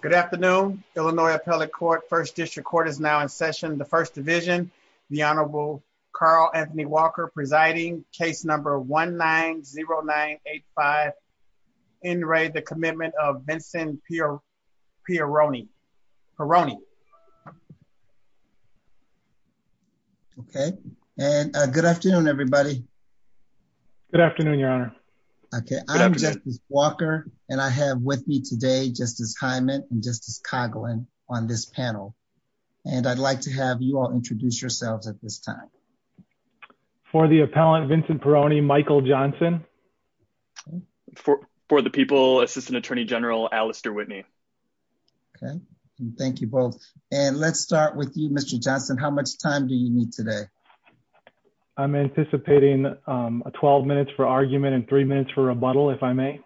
Good afternoon, Illinois Appellate Court. First District Court is now in session. The First Division, the Honorable Carl Anthony Walker presiding. Case number 1-9-0-9-8-5. In re the commitment of Vincent Pierroni. Pierroni. Okay, and good afternoon everybody. Good afternoon, Your Honor. Okay, I'm Justice Walker and I have with me today Justice Hyman and Justice Coughlin on this panel. And I'd like to have you all introduce yourselves at this time. For the appellant, Vincent Pierroni, Michael Johnson. For the people, Assistant Attorney General Alistair Whitney. Thank you both. And let's start with you, Mr. Johnson. How much time do you need today? I'm anticipating 12 minutes for argument and three minutes for rebuttal, if I may.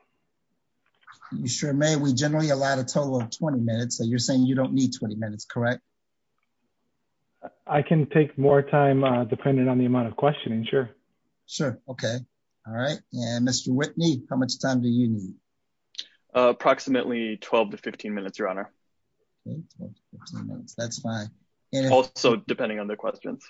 You sure may. We generally allow a total of 20 minutes. So you're saying you don't need 20 minutes, correct? I can take more time depending on the amount of questioning. Sure. Sure. Okay. All right. And Mr. Whitney, how much time do you need? That's fine. Also, depending on the questions.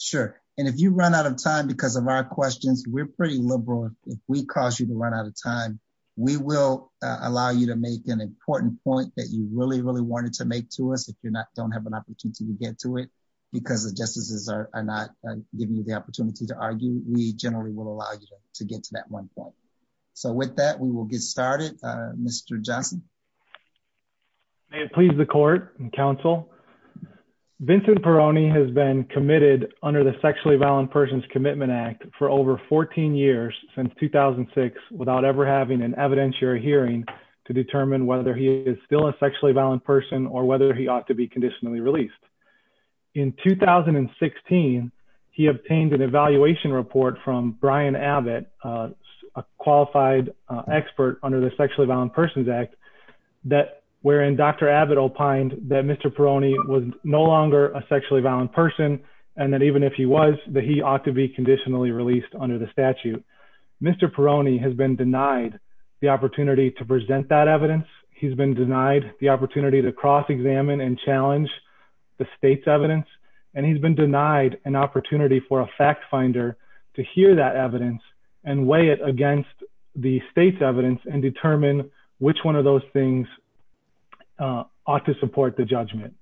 Sure. And if you run out of time because of our questions, we're pretty liberal. If we cause you to run out of time, we will allow you to make an important point that you really, really wanted to make to us. If you're not don't have an opportunity to get to it because the justices are not giving you the opportunity to argue. We generally will allow you to get to that one point. So with that, we will get started. Mr. Johnson, may it please the court and counsel. Vincent Peroni has been committed under the Sexually Violent Persons Commitment Act for over 14 years since 2006, without ever having an evidentiary hearing to determine whether he is still a sexually violent person or whether he ought to be conditionally released. In 2016, he obtained an evaluation report from Brian Abbott, a qualified expert under the Sexually Violent Persons Act, that wherein Dr. Abbott opined that Mr. Peroni was no longer a sexually violent person, and that even if he was, that he ought to be conditionally released under the statute. Mr. Peroni has been denied the opportunity to present that evidence. He's been denied the opportunity to cross examine and challenge the state's evidence. And he's been denied an opportunity for a fact finder to hear that evidence and weigh it against the state's evidence and determine which one of those things ought to support the judgment.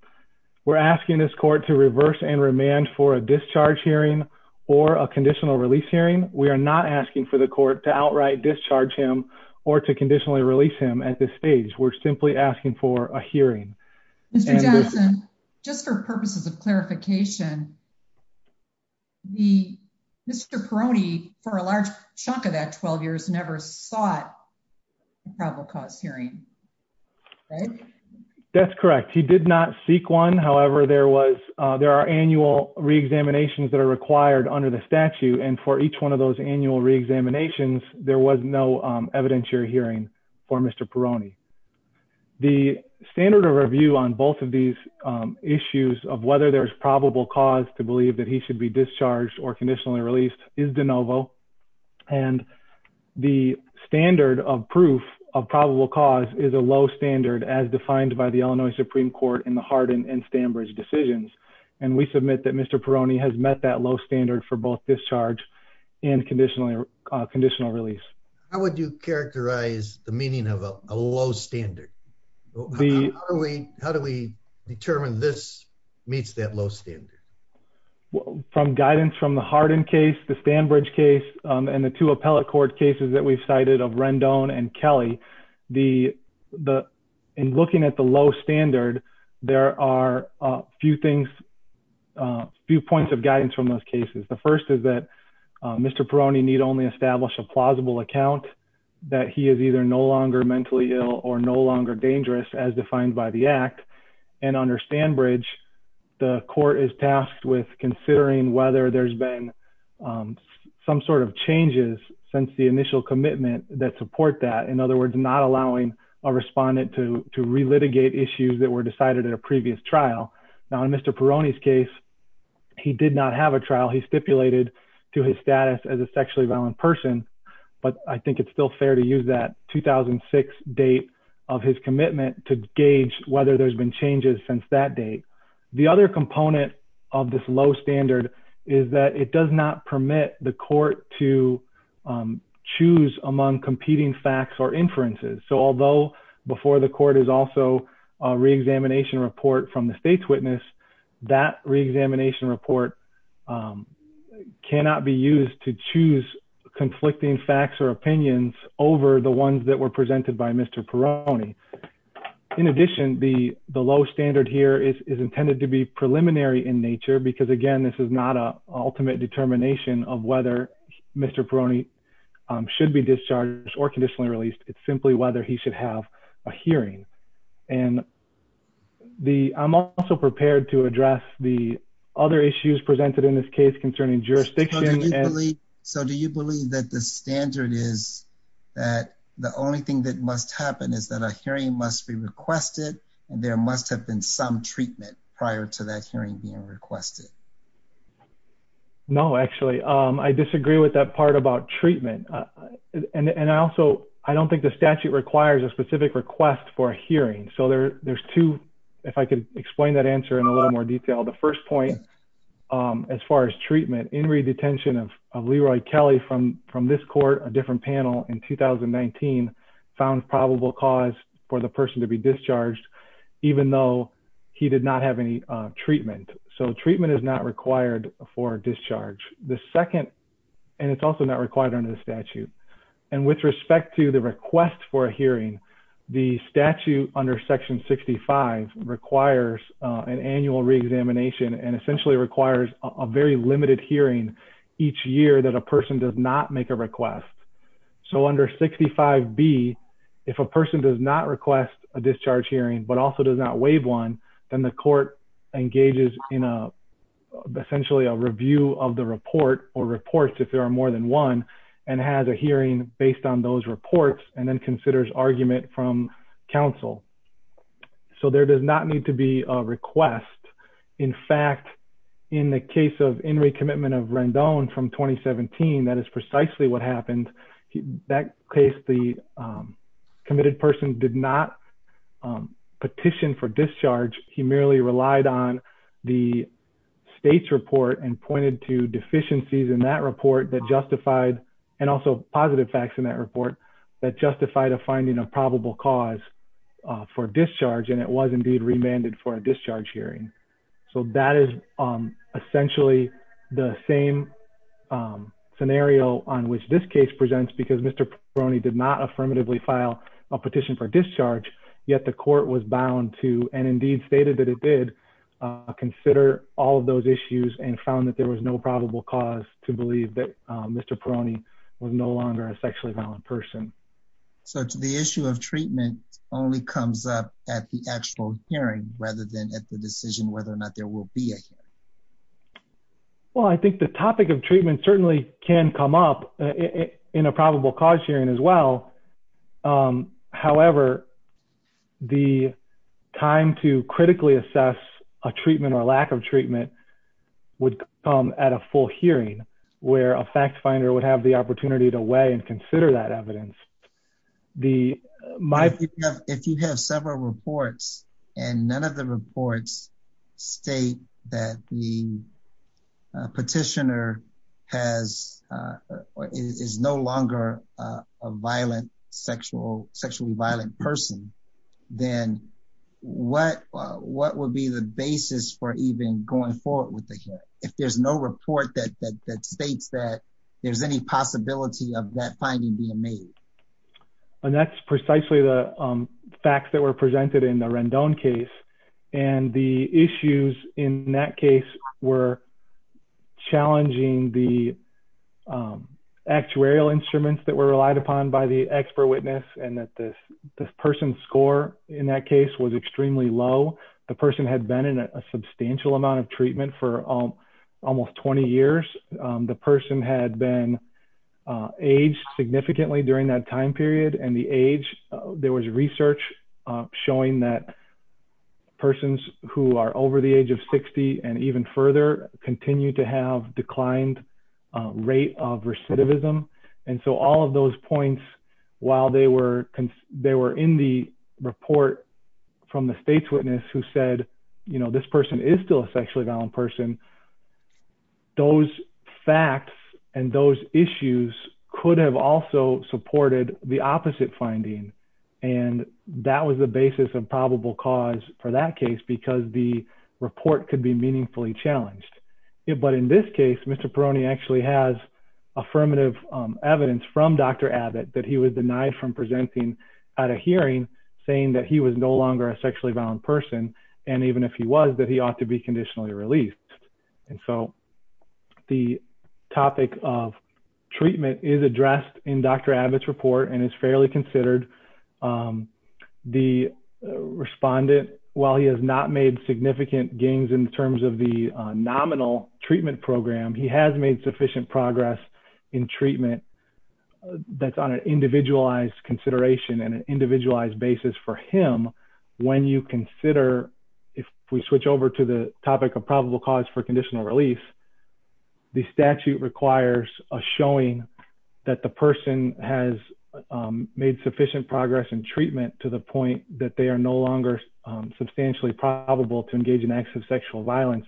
We're asking this court to reverse and remand for a discharge hearing or a conditional release hearing. We are not asking for the court to outright discharge him or to conditionally release him at this stage. We're simply asking for a hearing. Mr. Johnson, just for purposes of clarification, Mr. Peroni, for a large chunk of that 12 years, never sought a probable cause hearing, right? That's correct. He did not seek one. However, there are annual reexaminations that are required under the statute. And for each one of those annual reexaminations, there was no evidentiary hearing for Mr. Peroni. The standard of review on both of these issues of whether there is probable cause to believe that he should be discharged or conditionally released is de novo. And the standard of proof of probable cause is a low standard as defined by the Illinois Supreme Court in the Hardin and Stanbridge decisions. And we submit that Mr. Peroni has met that low standard for both discharge and conditional release. How would you characterize the meaning of a low standard? How do we determine this meets that low standard? From guidance from the Hardin case, the Stanbridge case, and the two appellate court cases that we've cited of Rendon and Kelly, in looking at the low standard, there are a few points of guidance from those cases. The first is that Mr. Peroni need only establish a plausible account that he is either no longer mentally ill or no longer dangerous as defined by the act. And under Stanbridge, the court is tasked with considering whether there's been some sort of changes since the initial commitment that support that. In other words, not allowing a respondent to relitigate issues that were decided at a previous trial. Now, in Mr. Peroni's case, he did not have a trial. He stipulated to his status as a sexually violent person. But I think it's still fair to use that 2006 date of his commitment to gauge whether there's been changes since that date. The other component of this low standard is that it does not permit the court to choose among competing facts or inferences. So although before the court is also a reexamination report from the state's witness, that reexamination report cannot be used to choose conflicting facts or opinions over the ones that were presented by Mr. Peroni. In addition, the low standard here is intended to be preliminary in nature because, again, this is not an ultimate determination of whether Mr. Peroni should be discharged or conditionally released. It's simply whether he should have a hearing. And I'm also prepared to address the other issues presented in this case concerning jurisdiction. So do you believe that the standard is that the only thing that must happen is that a hearing must be requested and there must have been some treatment prior to that hearing being requested? No, actually, I disagree with that part about treatment. And also, I don't think the statute requires a specific request for a hearing. So there's two, if I could explain that answer in a little more detail. The first point, as far as treatment, in redetention of Leroy Kelly from this court, a different panel in 2019, found probable cause for the person to be discharged, even though he did not have any treatment. So treatment is not required for discharge. And it's also not required under the statute. And with respect to the request for a hearing, the statute under Section 65 requires an annual reexamination and essentially requires a very limited hearing each year that a person does not make a request. So under 65B, if a person does not request a discharge hearing, but also does not waive one, then the court engages in essentially a review of the report or reports, if there are more than one, and has a hearing based on those reports and then considers argument from counsel. So there does not need to be a request. In fact, in the case of Henry Commitment of Rendon from 2017, that is precisely what happened. That case, the committed person did not petition for discharge. He merely relied on the state's report and pointed to deficiencies in that report that justified, and also positive facts in that report, that justified a finding of probable cause for discharge. And it was indeed remanded for a discharge hearing. So that is essentially the same scenario on which this case presents, because Mr. Peroni did not affirmatively file a petition for discharge, yet the court was bound to, and indeed stated that it did, consider all of those issues and found that there was no probable cause to believe that Mr. Peroni was no longer a sexually violent person. So the issue of treatment only comes up at the actual hearing, rather than at the decision whether or not there will be a hearing. If you have several reports, and none of the reports state that the petitioner is no longer a sexually violent person, then what would be the basis for even going forward with the hearing? If there's no report that states that there's any possibility of that finding being made. And that's precisely the facts that were presented in the Rendon case, and the issues in that case were challenging the actuarial instruments that were relied upon by the expert witness, and that this person's score in that case was extremely low. The person had been in a substantial amount of treatment for almost 20 years. The person had been aged significantly during that time period, and the age, there was research showing that persons who are over the age of 60, and even further, continue to have declined rate of recidivism. And so all of those points, while they were in the report from the state's witness who said, you know, this person is still a sexually violent person, those facts and those issues could have also supported the opposite finding. And that was the basis of probable cause for that case, because the report could be meaningfully challenged. But in this case, Mr. Peroni actually has affirmative evidence from Dr. Abbott that he was denied from presenting at a hearing, saying that he was no longer a sexually violent person, and even if he was, that he ought to be conditionally released. And so the topic of treatment is addressed in Dr. Abbott's report and is fairly considered. The respondent, while he has not made significant gains in terms of the nominal treatment program, he has made sufficient progress in treatment. That's on an individualized consideration and an individualized basis for him. When you consider, if we switch over to the topic of probable cause for conditional release, the statute requires a showing that the person has made sufficient progress in treatment to the point that they are no longer substantially probable to engage in acts of sexual violence,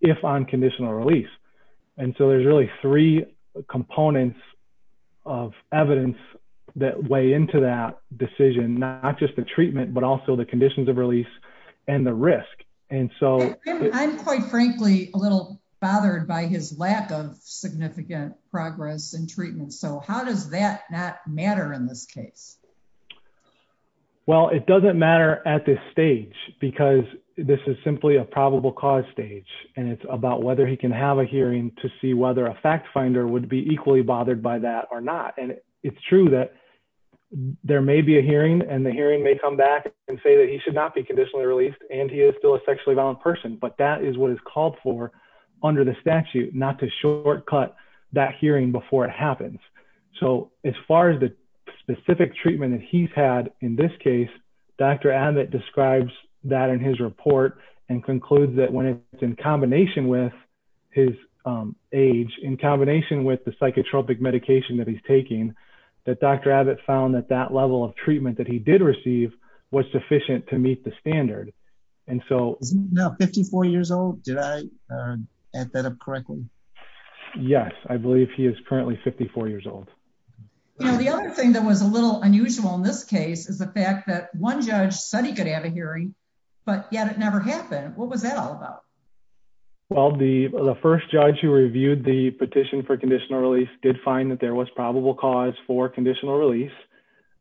if on conditional release. And so there's really three components of evidence that weigh into that decision, not just the treatment, but also the conditions of release and the risk. I'm quite frankly a little bothered by his lack of significant progress in treatment. So how does that not matter in this case? Well, it doesn't matter at this stage, because this is simply a probable cause stage, and it's about whether he can have a hearing to see whether a fact finder would be equally bothered by that or not. And it's true that there may be a hearing and the hearing may come back and say that he should not be conditionally released and he is still a sexually violent person, but that is what is called for under the statute, not to shortcut that hearing before it happens. So as far as the specific treatment that he's had in this case, Dr. Abbott describes that in his report and concludes that when it's in combination with his age, in combination with the psychotropic medication that he's taking, that Dr. Abbott found that that level of treatment that he did receive was sufficient to meet the standard. Is he now 54 years old? Did I add that up correctly? Yes, I believe he is currently 54 years old. The other thing that was a little unusual in this case is the fact that one judge said he could have a hearing, but yet it never happened. What was that all about? Well, the first judge who reviewed the petition for conditional release did find that there was probable cause for conditional release.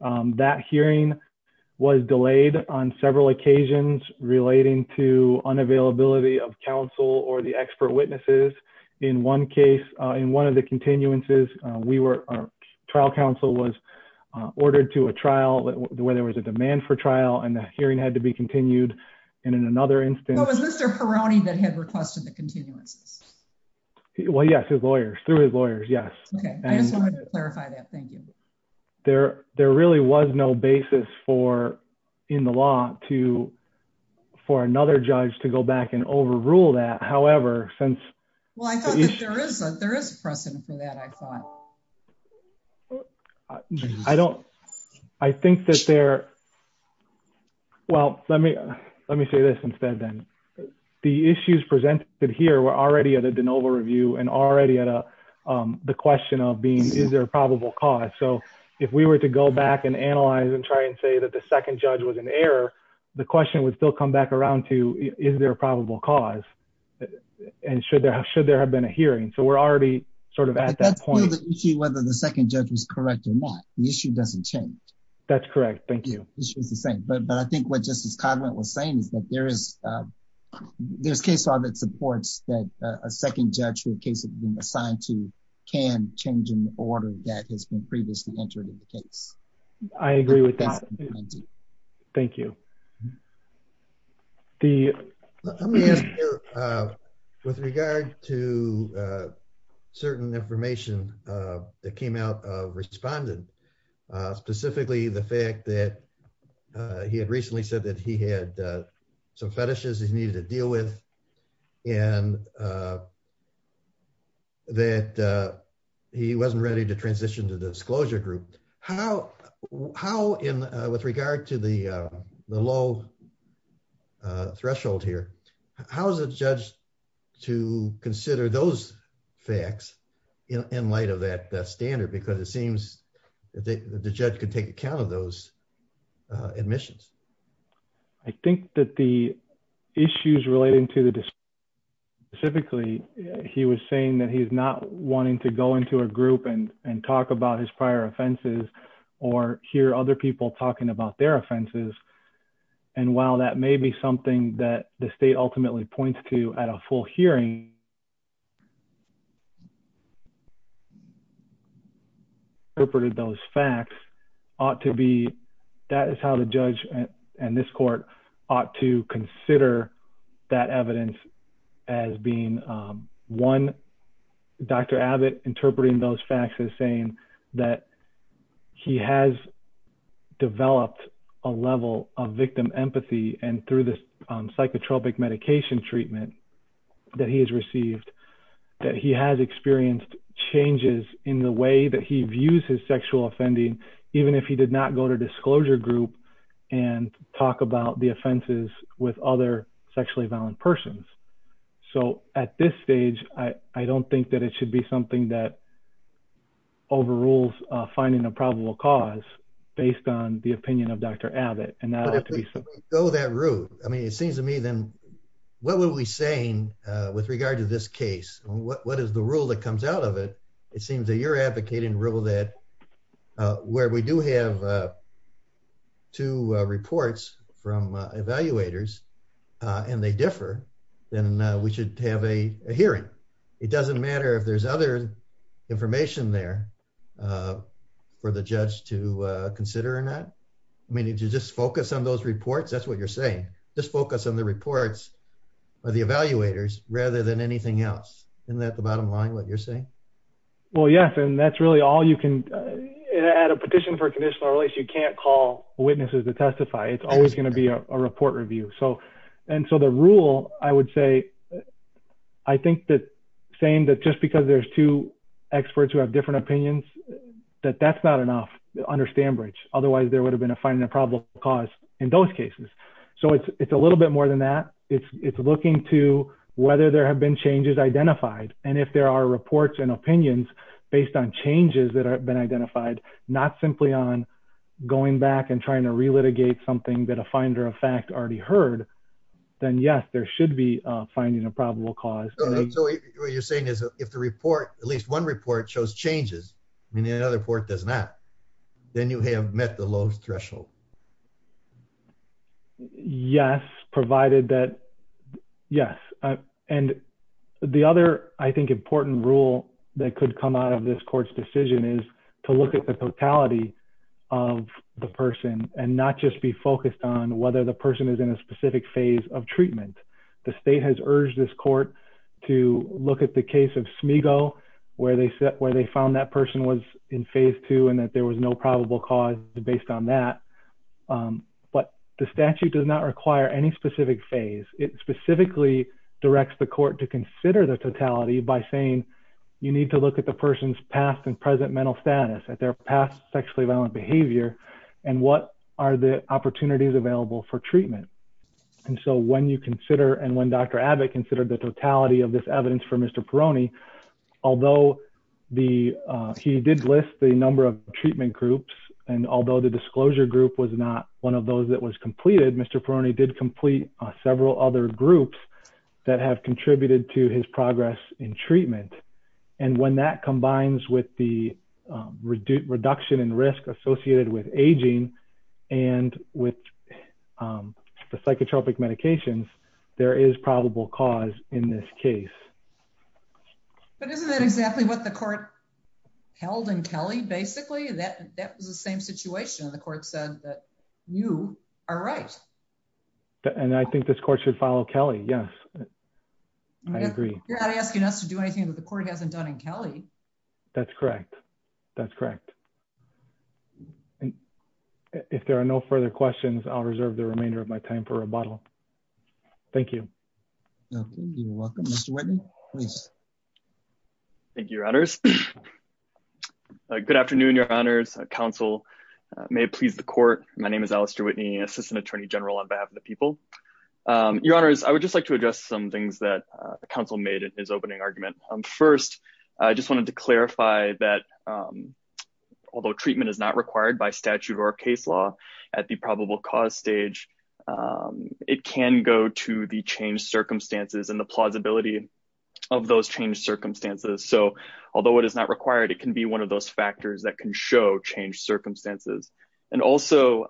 That hearing was delayed on several occasions relating to unavailability of counsel or the expert witnesses. In one case, in one of the continuances, trial counsel was ordered to a trial where there was a demand for trial and the hearing had to be continued. But was Mr. Perrone that had requested the continuances? Well, yes, through his lawyers, yes. Okay, I just wanted to clarify that. Thank you. There really was no basis in the law for another judge to go back and overrule that. Well, I thought that there is precedent for that, I thought. I don't, I think that there, well, let me say this instead then. The issues presented here were already at a de novo review and already at a, the question of being, is there a probable cause? So if we were to go back and analyze and try and say that the second judge was an error, the question would still come back around to, is there a probable cause? And should there have been a hearing? So we're already sort of at that point. But that's still the issue, whether the second judge was correct or not. The issue doesn't change. That's correct. Thank you. The issue is the same. But I think what Justice Cogman was saying is that there is, there's case law that supports that a second judge who a case has been assigned to can change an order that has been previously entered in the case. I agree with that. Thank you. The, with regard to certain information that came out of respondent, specifically the fact that he had recently said that he had some fetishes he needed to deal with, and that he wasn't ready to transition to disclosure group. How, with regard to the low threshold here, how is a judge to consider those facts in light of that standard? Because it seems that the judge could take account of those admissions. I think that the issues relating to the, specifically, he was saying that he's not wanting to go into a group and talk about his prior offenses or hear other people talking about their offenses. And while that may be something that the state ultimately points to at a full hearing, interpreted those facts ought to be, that is how the judge and this court ought to consider that evidence as being one. That's what I'm hoping to do now. I'm hoping that Dr. Abbott interpreting those facts is saying that he has developed a level of victim empathy, and through this psychotropic medication treatment that he has received, that he has experienced changes in the way that he views his sexual offending, even if he did not go to disclosure group and talk about the offenses with other sexually violent persons. So, at this stage, I don't think that it should be something that overrules finding a probable cause, based on the opinion of Dr. Abbott. Go that route. I mean, it seems to me, then, what were we saying with regard to this case? What is the rule that comes out of it? It seems that you're advocating rule that where we do have two reports from evaluators, and they differ, then we should have a hearing. It doesn't matter if there's other information there for the judge to consider or not. I mean, did you just focus on those reports? That's what you're saying. Just focus on the reports of the evaluators, rather than anything else. Isn't that the bottom line, what you're saying? Well, yes, and that's really all you can, at a petition for conditional release, you can't call witnesses to testify. It's always going to be a report review. And so, the rule, I would say, I think that saying that just because there's two experts who have different opinions, that that's not enough to understand bridge. based on changes that have been identified, not simply on going back and trying to relitigate something that a finder of fact already heard, then yes, there should be finding a probable cause. So, what you're saying is, if the report, at least one report shows changes, and the other report does not, then you have met the low threshold. Yes, provided that, yes. And the other, I think, important rule that could come out of this court's decision is to look at the totality of the person and not just be focused on whether the person is in a specific phase of treatment. The state has urged this court to look at the case of Smego, where they found that person was in phase two and that there was no probable cause based on that. But the statute does not require any specific phase. It specifically directs the court to consider the totality by saying, you need to look at the person's past and present mental status, at their past sexually violent behavior, and what are the opportunities available for treatment. And so, when you consider, and when Dr. Abbott considered the totality of this evidence for Mr. Peroni, although he did list the number of treatment groups, and although the disclosure group was not one of those that was completed, Mr. Peroni did complete several other groups that have contributed to his progress in treatment. And when that combines with the reduction in risk associated with aging and with the psychotropic medications, there is probable cause in this case. But isn't that exactly what the court held in Kelly, basically? That was the same situation. The court said that you are right. And I think this court should follow Kelly, yes. I agree. You're not asking us to do anything that the court hasn't done in Kelly. That's correct. That's correct. If there are no further questions, I'll reserve the remainder of my time for rebuttal. Thank you. You're welcome. Mr. Whitney, please. Thank you, Your Honors. Good afternoon, Your Honors. Counsel may please the court. My name is Alistair Whitney, Assistant Attorney General on behalf of the people. Your Honors, I would just like to address some things that the counsel made in his opening argument. First, I just wanted to clarify that although treatment is not required by statute or case law at the probable cause stage, it can go to the changed circumstances and the plausibility of those changed circumstances. So although it is not required, it can be one of those factors that can show changed circumstances. And also,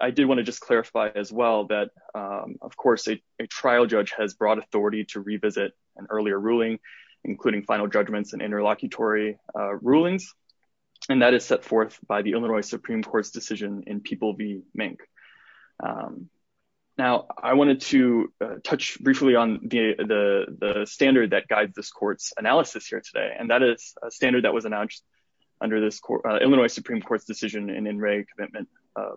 I did want to just clarify as well that, of course, a trial judge has broad authority to revisit an earlier ruling, including final judgments and interlocutory rulings. And that is set forth by the Illinois Supreme Court's decision in People v. Mink. Now, I wanted to touch briefly on the standard that guides this court's analysis here today. And that is a standard that was announced under this court, Illinois Supreme Court's decision in In Re Commitment,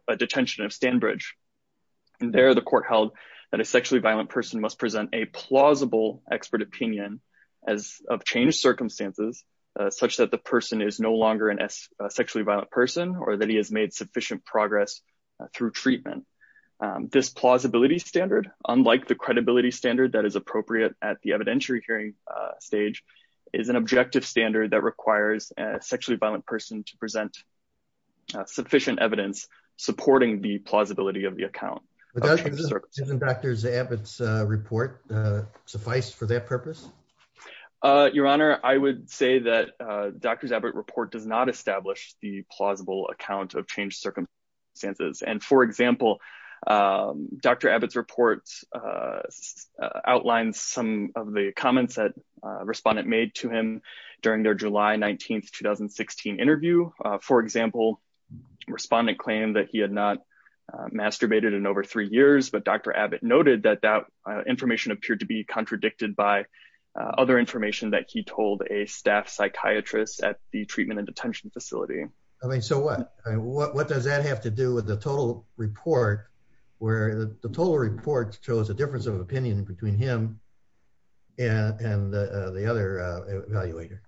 a detention of Stanbridge. And there, the court held that a sexually violent person must present a plausible expert opinion of changed circumstances, such that the person is no longer a sexually violent person or that he has made sufficient progress through treatment. This plausibility standard, unlike the credibility standard that is appropriate at the evidentiary hearing stage, is an objective standard that requires a sexually violent person to present sufficient evidence supporting the plausibility of the account. Does Dr. Zabit's report suffice for that purpose? Your Honor, I would say that Dr. Zabit's report does not establish the plausible account of changed circumstances. And for example, Dr. Zabit's report outlines some of the comments that a respondent made to him during their July 19, 2016 interview. For example, a respondent claimed that he had not masturbated in over three years, but Dr. Zabit noted that that information appeared to be contradicted by other information that he told a staff psychiatrist at the treatment and detention facility. I mean, so what? What does that have to do with the total report, where the total report shows a difference of opinion between him and the other evaluator?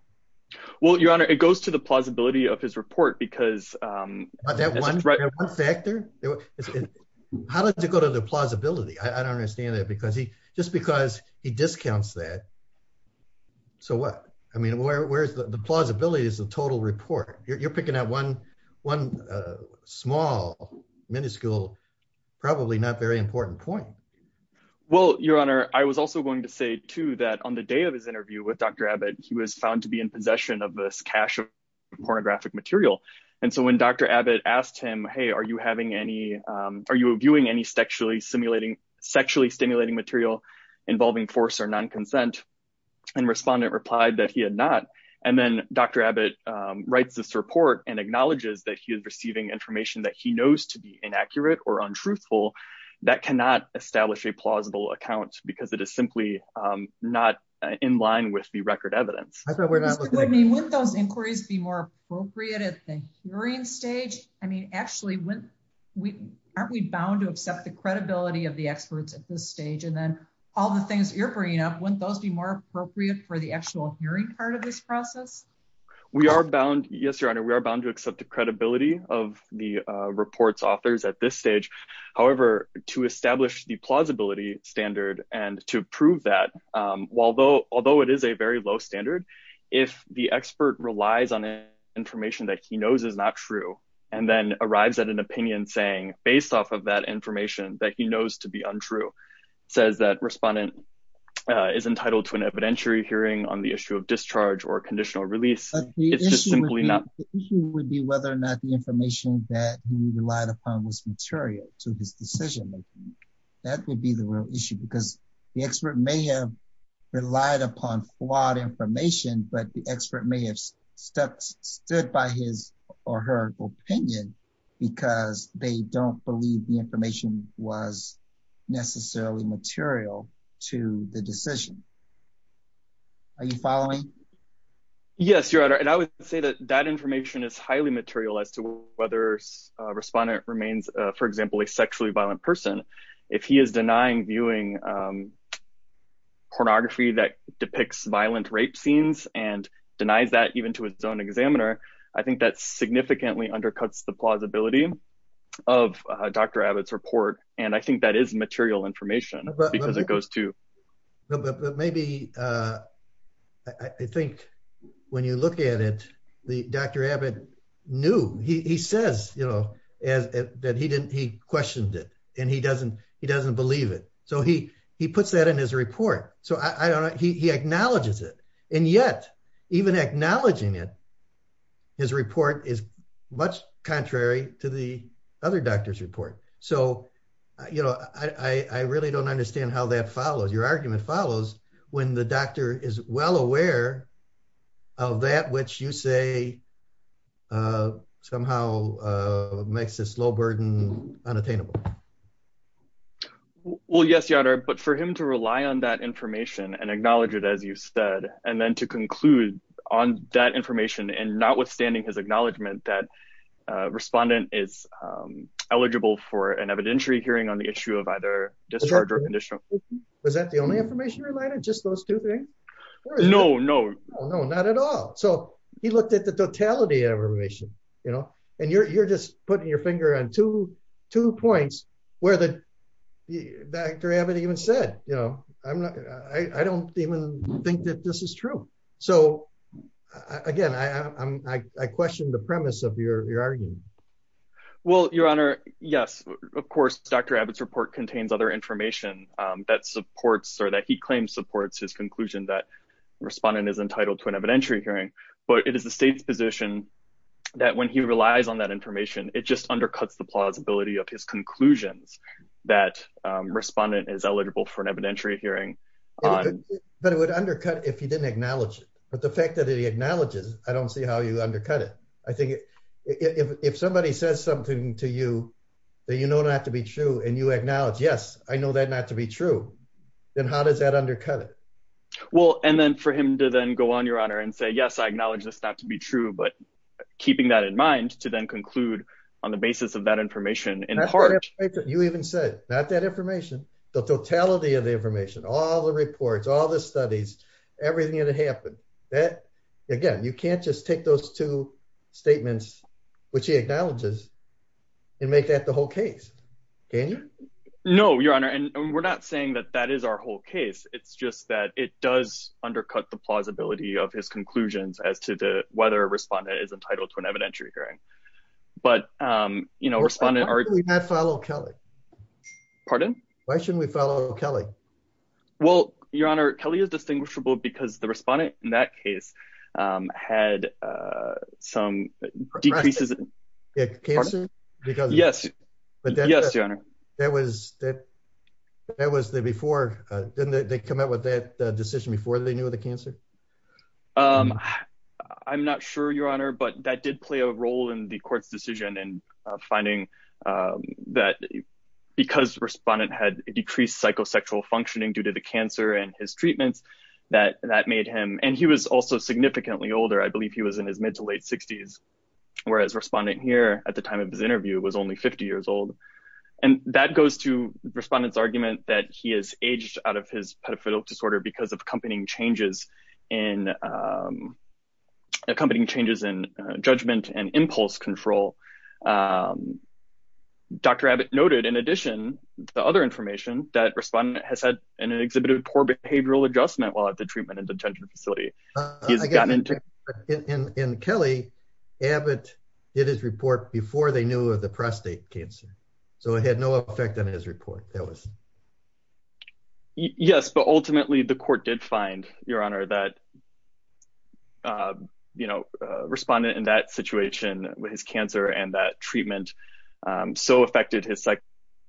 Well, Your Honor, it goes to the plausibility of his report because... Is that one factor? How does it go to the plausibility? I don't understand that. Just because he discounts that, so what? I mean, where's the plausibility of the total report? You're picking out one small, minuscule, probably not very important point. Well, Your Honor, I was also going to say, too, that on the day of his interview with Dr. Zabit, he was found to be in possession of this cache of pornographic material. And so when Dr. Zabit asked him, hey, are you viewing any sexually stimulating material involving force or non-consent? And respondent replied that he had not. And then Dr. Zabit writes this report and acknowledges that he is receiving information that he knows to be inaccurate or untruthful that cannot establish a plausible account because it is simply not in line with the record evidence. Mr. Whitney, wouldn't those inquiries be more appropriate at the hearing stage? I mean, actually, aren't we bound to accept the credibility of the experts at this stage? And then all the things you're bringing up, wouldn't those be more appropriate for the actual hearing part of this process? We are bound. Yes, Your Honor, we are bound to accept the credibility of the report's authors at this stage. However, to establish the plausibility standard and to prove that, although it is a very low standard, if the expert relies on information that he knows is not true and then arrives at an opinion saying, based off of that information that he knows to be untrue, says that respondent is entitled to an evidentiary hearing on the issue of discharge or conditional release, it's just simply not... material to the decision. Are you following? But maybe, I think, when you look at it, Dr. Abbott knew, he says, you know, that he questioned it, and he doesn't believe it. So he puts that in his report. So I don't know, he acknowledges it. And yet, even acknowledging it, his report is much contrary to the other doctor's report. So, you know, I really don't understand how that follows. Your argument follows when the doctor is well aware of that which you say somehow makes this low burden unattainable. Well, yes, Yadar, but for him to rely on that information and acknowledge it, as you said, and then to conclude on that information and notwithstanding his acknowledgement that respondent is eligible for an evidentiary hearing on the issue of either discharge or conditional release... Was that the only information you relied on? Just those two things? No, no. No, not at all. So he looked at the totality of information, you know, and you're just putting your finger on two points where Dr. Abbott even said, you know, I don't even think that this is true. So, again, I question the premise of your argument. Well, Your Honor, yes, of course, Dr. Abbott's report contains other information that supports or that he claims supports his conclusion that respondent is entitled to an evidentiary hearing. But it is the state's position that when he relies on that information, it just undercuts the plausibility of his conclusions that respondent is eligible for an evidentiary hearing. But it would undercut if he didn't acknowledge it. But the fact that he acknowledges, I don't see how you undercut it. I think if somebody says something to you that you know not to be true and you acknowledge, yes, I know that not to be true, then how does that undercut it? Well, and then for him to then go on, Your Honor, and say, yes, I acknowledge this not to be true, but keeping that in mind to then conclude on the basis of that information in part... You even said, not that information, the totality of the information, all the reports, all the studies, everything that happened, that, again, you can't just take those two statements, which he acknowledges, and make that the whole case, can you? No, Your Honor, and we're not saying that that is our whole case. It's just that it does undercut the plausibility of his conclusions as to whether a respondent is entitled to an evidentiary hearing. Why should we not follow Kelly? Pardon? Why shouldn't we follow Kelly? Well, Your Honor, Kelly is distinguishable because the respondent in that case had some decreases in... Cancer? Yes, Your Honor. Didn't they come out with that decision before they knew of the cancer? I'm not sure, Your Honor, but that did play a role in the court's decision and finding that because respondent had decreased psychosexual functioning due to the cancer and his treatments that that made him, and he was also significantly older. I believe he was in his mid to late 60s, whereas respondent here at the time of his interview was only 50 years old. And that goes to respondent's argument that he has aged out of his pedophilic disorder because of accompanying changes in judgment and impulse control. Dr. Abbott noted, in addition, the other information that respondent has had an exhibited poor behavioral adjustment while at the treatment and detention facility. In Kelly, Abbott did his report before they knew of the prostate cancer. So it had no effect on his report. Yes, but ultimately the court did find, Your Honor, that respondent in that situation with his cancer and that treatment so affected his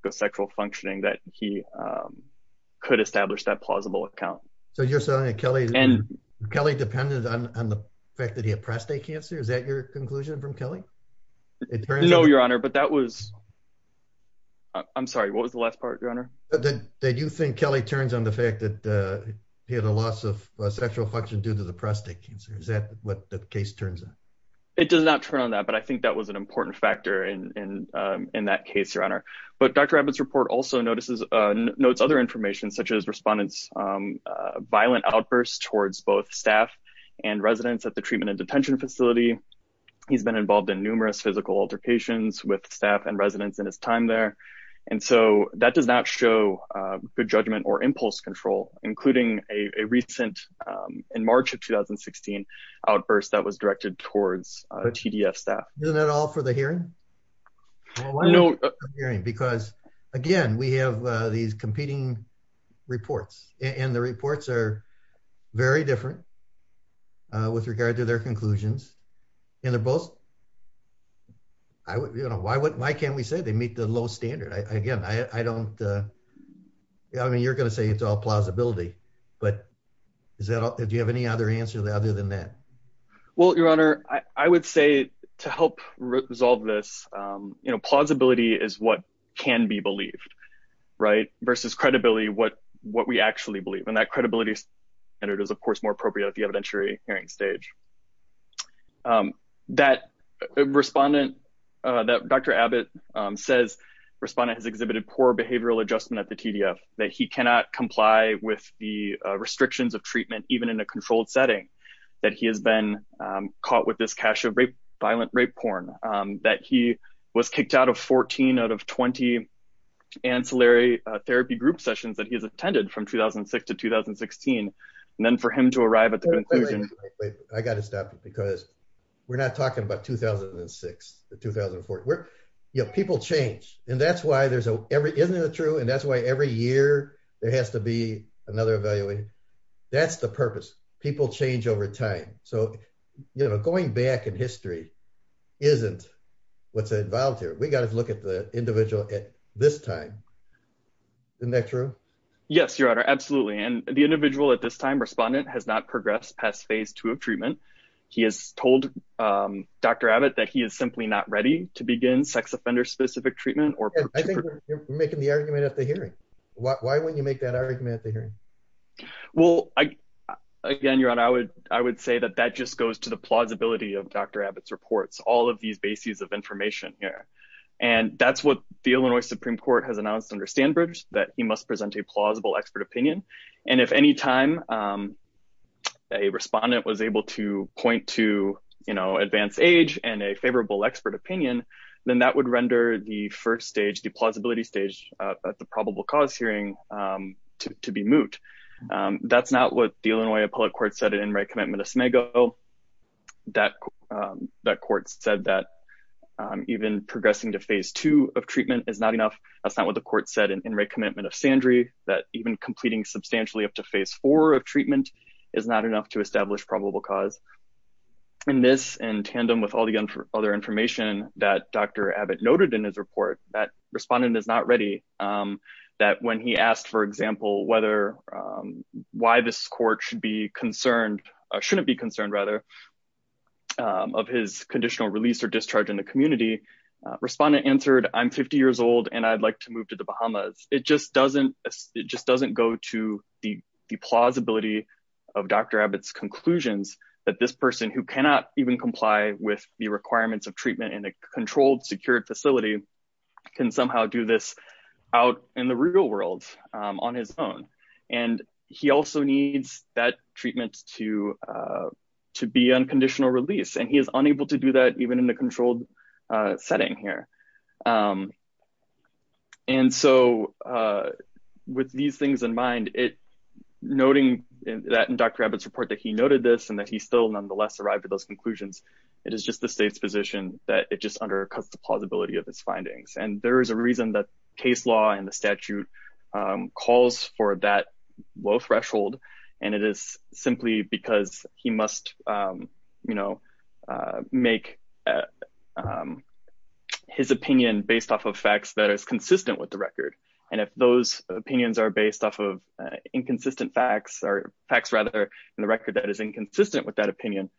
psychosexual functioning that he could establish that plausible account. So you're saying that Kelly depended on the fact that he had prostate cancer? Is that your conclusion from Kelly? No, Your Honor, but that was, I'm sorry, what was the last part, Your Honor? That you think Kelly turns on the fact that he had a loss of sexual function due to the prostate cancer. Is that what the case turns on? It does not turn on that, but I think that was an important factor in that case, Your Honor. But Dr. Abbott's report also notes other information such as respondent's violent outbursts towards both staff and residents at the treatment and detention facility. He's been involved in numerous physical altercations with staff and residents in his time there. And so that does not show good judgment or impulse control, including a recent, in March of 2016, outburst that was directed towards TDF staff. Isn't that all for the hearing? No. Because, again, we have these competing reports and the reports are very different with regard to their conclusions. And they're both, you know, why can't we say they meet the low standard? Again, I don't, I mean, you're going to say it's all plausibility, but do you have any other answer other than that? Well, Your Honor, I would say to help resolve this, you know, plausibility is what can be believed, right? Versus credibility, what we actually believe. And that credibility standard is, of course, more appropriate at the evidentiary hearing stage. That respondent, that Dr. Abbott says respondent has exhibited poor behavioral adjustment at the TDF, that he cannot comply with the restrictions of treatment, even in a controlled setting, that he has been caught with this cache of rape, violent rape porn, that he was kicked out of 14 out of 20 ancillary therapy group sessions that he has attended from 2006 to 2016. And then for him to arrive at the conclusion. I got to stop you because we're not talking about 2006 to 2014. We're, you know, people change. And that's why there's a every, isn't it true? And that's why every year, there has to be another evaluation. That's the purpose. People change over time. So, you know, going back in history, isn't what's involved here. We got to look at the individual at this time. Isn't that true? Yes, Your Honor. Absolutely. And the individual at this time respondent has not progressed past phase two of treatment. He has told Dr. Abbott that he is simply not ready to begin sex offender specific treatment. I think you're making the argument at the hearing. Why wouldn't you make that argument at the hearing? Well, I, again, Your Honor, I would, I would say that that just goes to the plausibility of Dr. Abbott's reports, all of these bases of information here. And that's what the Illinois Supreme Court has announced under Standbridge that he must present a plausible expert opinion. And if any time a respondent was able to point to, you know, advanced age and a favorable expert opinion, then that would render the first stage, the plausibility stage at the probable cause hearing to be moot. That's not what the Illinois appellate court said it in my commitment to SMAGO. That court said that even progressing to phase two of treatment is not enough. That's not what the court said in my commitment of Sandry that even completing substantially up to phase four of treatment is not enough to establish probable cause. In this, in tandem with all the other information that Dr. Abbott noted in his report that respondent is not ready, that when he asked, for example, whether, why this court should be concerned, shouldn't be concerned, rather, of his conditional release or discharge in the community, respondent answered, I'm 50 years old and I'd like to move to the Bahamas. It just doesn't go to the plausibility of Dr. Abbott's conclusions that this person who cannot even comply with the requirements of treatment in a controlled, secured facility can somehow do this out in the real world on his own. And he also needs that treatment to be unconditional release and he is unable to do that even in the controlled setting here. And so, with these things in mind, noting that in Dr. Abbott's report that he noted this and that he still nonetheless arrived at those conclusions, it is just the state's position that it just undercuts the plausibility of his findings. And there is a reason that case law and the statute calls for that low threshold, and it is simply because he must, you know, make his opinion based off of facts that is consistent with the record. And if those opinions are based off of inconsistent facts or facts, rather, in the record that is inconsistent with that opinion,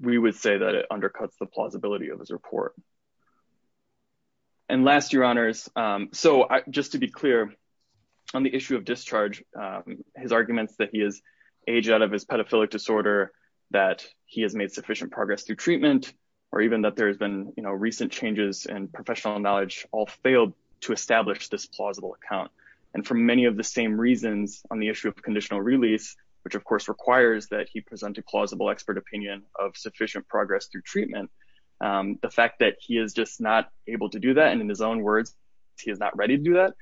we would say that it undercuts the plausibility of his report. And last, Your Honors, so just to be clear, on the issue of discharge, his arguments that he has aged out of his pedophilic disorder, that he has made sufficient progress through treatment, or even that there has been, you know, recent changes in professional knowledge all failed to establish this plausible account. And for many of the same reasons on the issue of conditional release, which of course requires that he present a plausible expert opinion of sufficient progress through treatment, the fact that he is just not able to do that, and in his own words, he is not ready to do that,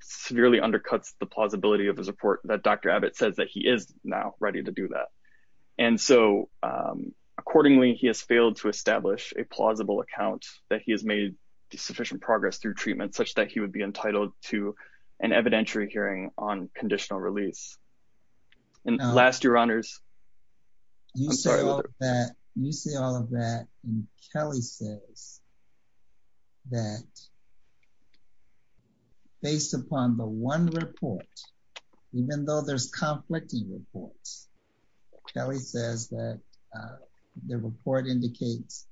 severely undercuts the plausibility of his report that Dr. Abbott says that he is now ready to do that. And so, accordingly, he has failed to establish a plausible account that he has made sufficient progress through treatment such that he would be entitled to an evidentiary hearing on conditional release. And last, Your Honors. You say all of that, and Kelly says that based upon the one report, even though there's conflicting reports, Kelly says that the report indicates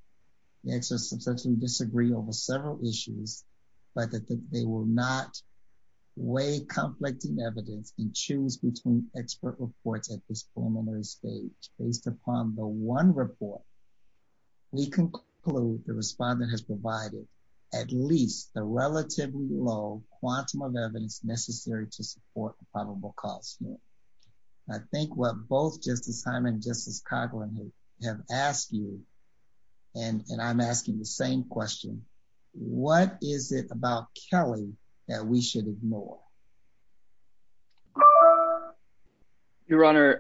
the experts substantially disagree over several issues, but that they will not weigh conflicting evidence and choose between expert reports at this point in the report. And so, in conclusion, I would say that based upon the one report, we conclude the respondent has provided at least the relatively low quantum of evidence necessary to support the probable cause. I think what both Justice Hyman and Justice Coughlin have asked you, and I'm asking the same question, what is it about Kelly that we should ignore? Your Honor,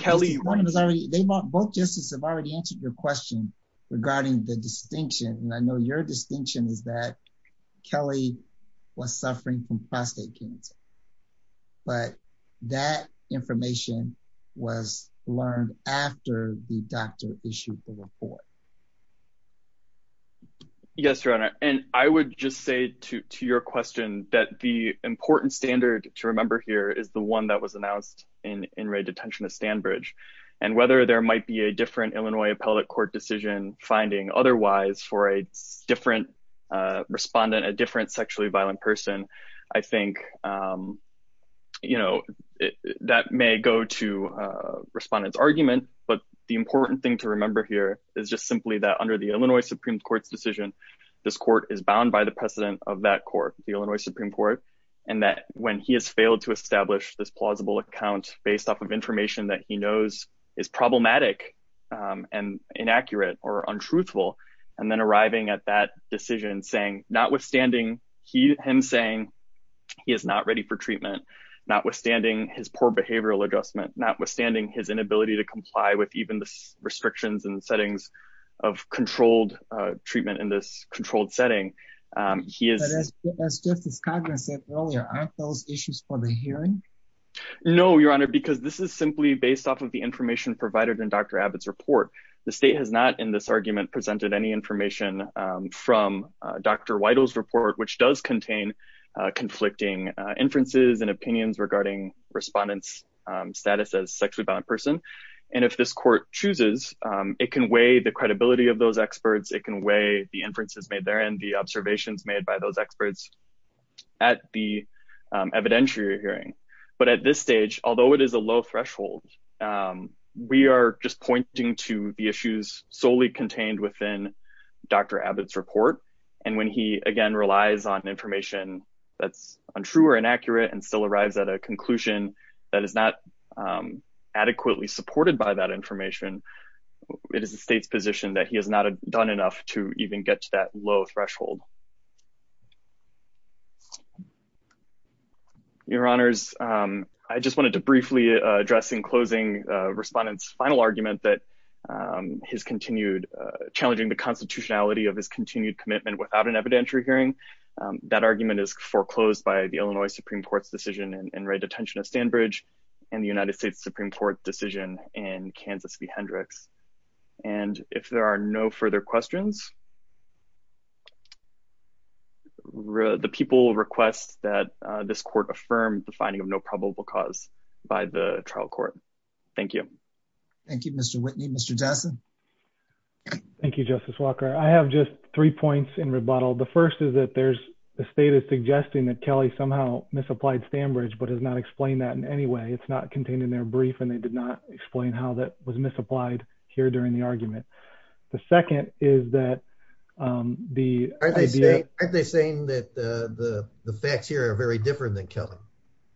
Kelly... Both justices have already answered your question regarding the distinction, and I know your distinction is that Kelly was suffering from prostate cancer, but that information was learned after the doctor issued the report. Yes, Your Honor, and I would just say to your question that the important standard to remember here is the one that was announced in in-rate detention at Stanbridge, and whether there might be a different Illinois appellate court decision finding otherwise for a different respondent, a different sexually violent person, I think, you know, that may go to respondents' argument, but the important thing to remember here is just simply that under the Illinois Supreme Court's decision, this court is bound by the precedent of that court, the Illinois Supreme Court, and that when he has failed to establish this plausible account based off of information that he knows is problematic and inaccurate or untruthful, and then arriving at that decision saying, notwithstanding him saying he is not ready for treatment, notwithstanding his poor behavioral adjustment, notwithstanding his inability to comply with even the restrictions and settings of controlled treatment in this controlled setting, he is... But as Justice Coughlin said earlier, aren't those issues for the hearing? No, Your Honor, because this is simply based off of the information provided in Dr. Abbott's report. The state has not, in this argument, presented any information from Dr. Weidel's report, which does contain conflicting inferences and opinions regarding respondents' status as sexually violent person. And if this court chooses, it can weigh the credibility of those experts, it can weigh the inferences made therein, the observations made by those experts at the evidentiary hearing. But at this stage, although it is a low threshold, we are just pointing to the issues solely contained within Dr. Abbott's report. And when he, again, relies on information that's untrue or inaccurate and still arrives at a conclusion that is not adequately supported by that information, it is the state's position that he has not done enough to even get to that low threshold. Your Honors, I just wanted to briefly address in closing respondents' final argument that his continued... challenging the constitutionality of his continued commitment without an evidentiary hearing, that argument is foreclosed by the Illinois Supreme Court's decision in Wright Detention at Stanbridge and the United States Supreme Court decision in Kansas v. Hendricks. And if there are no further questions, the people request that this court affirm the finding of no probable cause by the trial court. Thank you. Thank you, Mr. Whitney. Mr. Jessen? Thank you, Justice Walker. I have just three points in rebuttal. The first is that there's... the state is suggesting that Kelly somehow misapplied Stanbridge but has not explained that in any way. It's not contained in their brief and they did not explain how that was misapplied here during the argument. The second is that the... Aren't they saying that the facts here are very different than Kelly?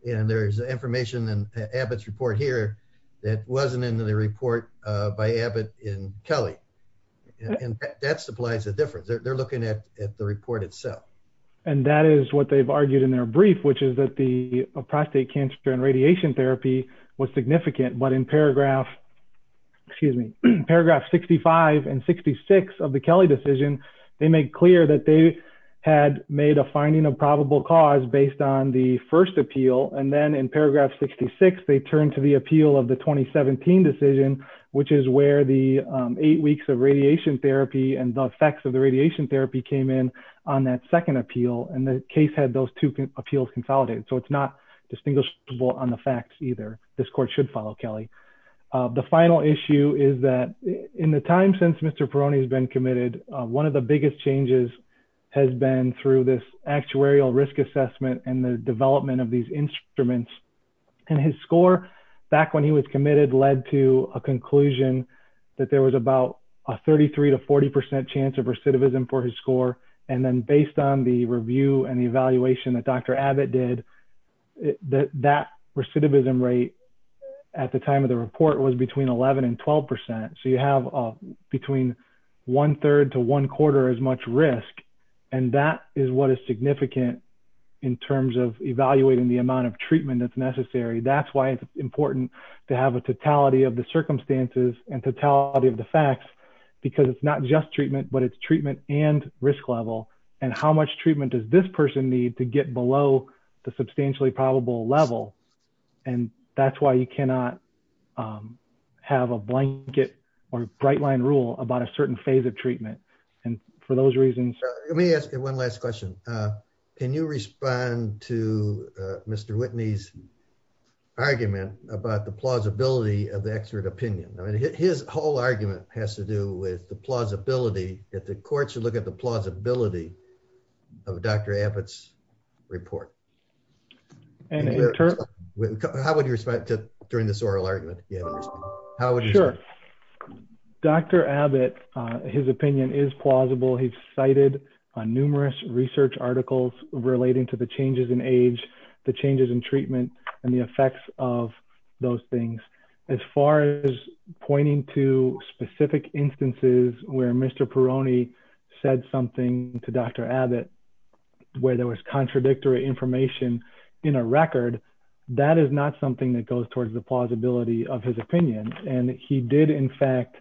And there's information in Abbott's report here that wasn't in the report by Abbott in Kelly. And that supplies a difference. They're looking at the report itself. And that is what they've argued in their brief, which is that the prostate cancer and radiation therapy was significant. But in paragraph, excuse me, paragraph 65 and 66 of the Kelly decision, they make clear that they had made a finding of probable cause based on the first appeal. And then in paragraph 66, they turned to the appeal of the 2017 decision, which is where the eight weeks of radiation therapy and the effects of the radiation therapy came in on that second appeal. And the case had those two appeals consolidated. So it's not distinguishable on the facts either. This court should follow Kelly. The final issue is that in the time since Mr. Perrone has been committed, one of the biggest changes has been through this actuarial risk assessment and the development of these instruments. And his score back when he was committed led to a conclusion that there was about a 33 to 40% chance of recidivism for his score. And then based on the review and the evaluation that Dr. Abbott did, that recidivism rate at the time of the report was between 11 and 12%. So you have between one third to one quarter as much risk. And that is what is significant in terms of evaluating the amount of treatment that's necessary. That's why it's important to have a totality of the circumstances and totality of the facts, because it's not just treatment, but it's treatment and risk level. And how much treatment does this person need to get below the substantially probable level? And that's why you cannot have a blanket or bright line rule about a certain phase of treatment. And for those reasons. Let me ask you one last question. Can you respond to Mr. Whitney's argument about the plausibility of the expert opinion? I mean, his whole argument has to do with the plausibility that the court should look at the plausibility of Dr. Abbott's report. How would you respond to during this oral argument? Dr. Abbott, his opinion is plausible. He's cited on numerous research articles relating to the changes in age, the changes in treatment and the effects of those things. As far as pointing to specific instances where Mr. Perrone said something to Dr. Abbott, where there was contradictory information in a record, that is not something that goes towards the plausibility of his opinion. And he did, in fact,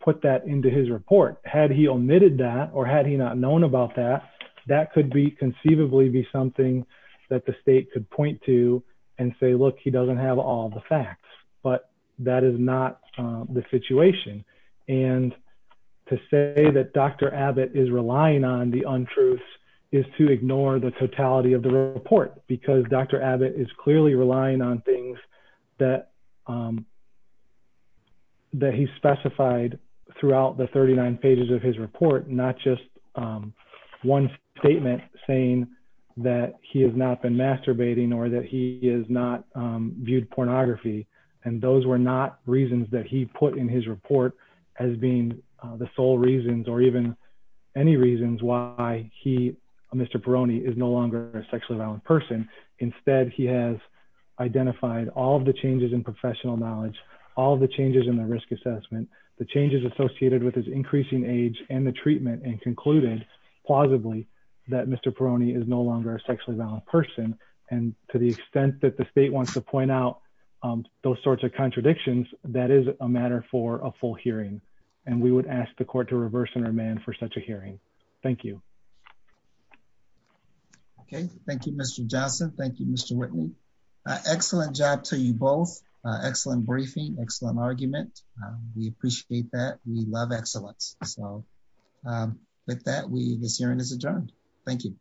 put that into his report. Had he omitted that or had he not known about that, that could be conceivably be something that the state could point to and say, look, he doesn't have all the facts, but that is not the situation. And to say that Dr. Abbott is relying on the untruths is to ignore the totality of the report, because Dr. Abbott is clearly relying on things that he specified throughout the 39 pages of his report, not just one statement saying that he has not been masturbating or that he has not viewed pornography. And those were not reasons that he put in his report as being the sole reasons or even any reasons why he, Mr. Perrone, is no longer a sexually violent person. Instead, he has identified all of the changes in professional knowledge, all the changes in the risk assessment, the changes associated with his increasing age and the treatment and concluded, plausibly, that Mr. Perrone is no longer a sexually violent person. And to the extent that the state wants to point out those sorts of contradictions, that is a matter for a full hearing. And we would ask the court to reverse and remand for such a hearing. Thank you. Okay, thank you, Mr. Johnson. Thank you, Mr. Whitney. Excellent job to you both. Excellent briefing, excellent argument. We appreciate that. We love excellence. So, with that, this hearing is adjourned. Thank you.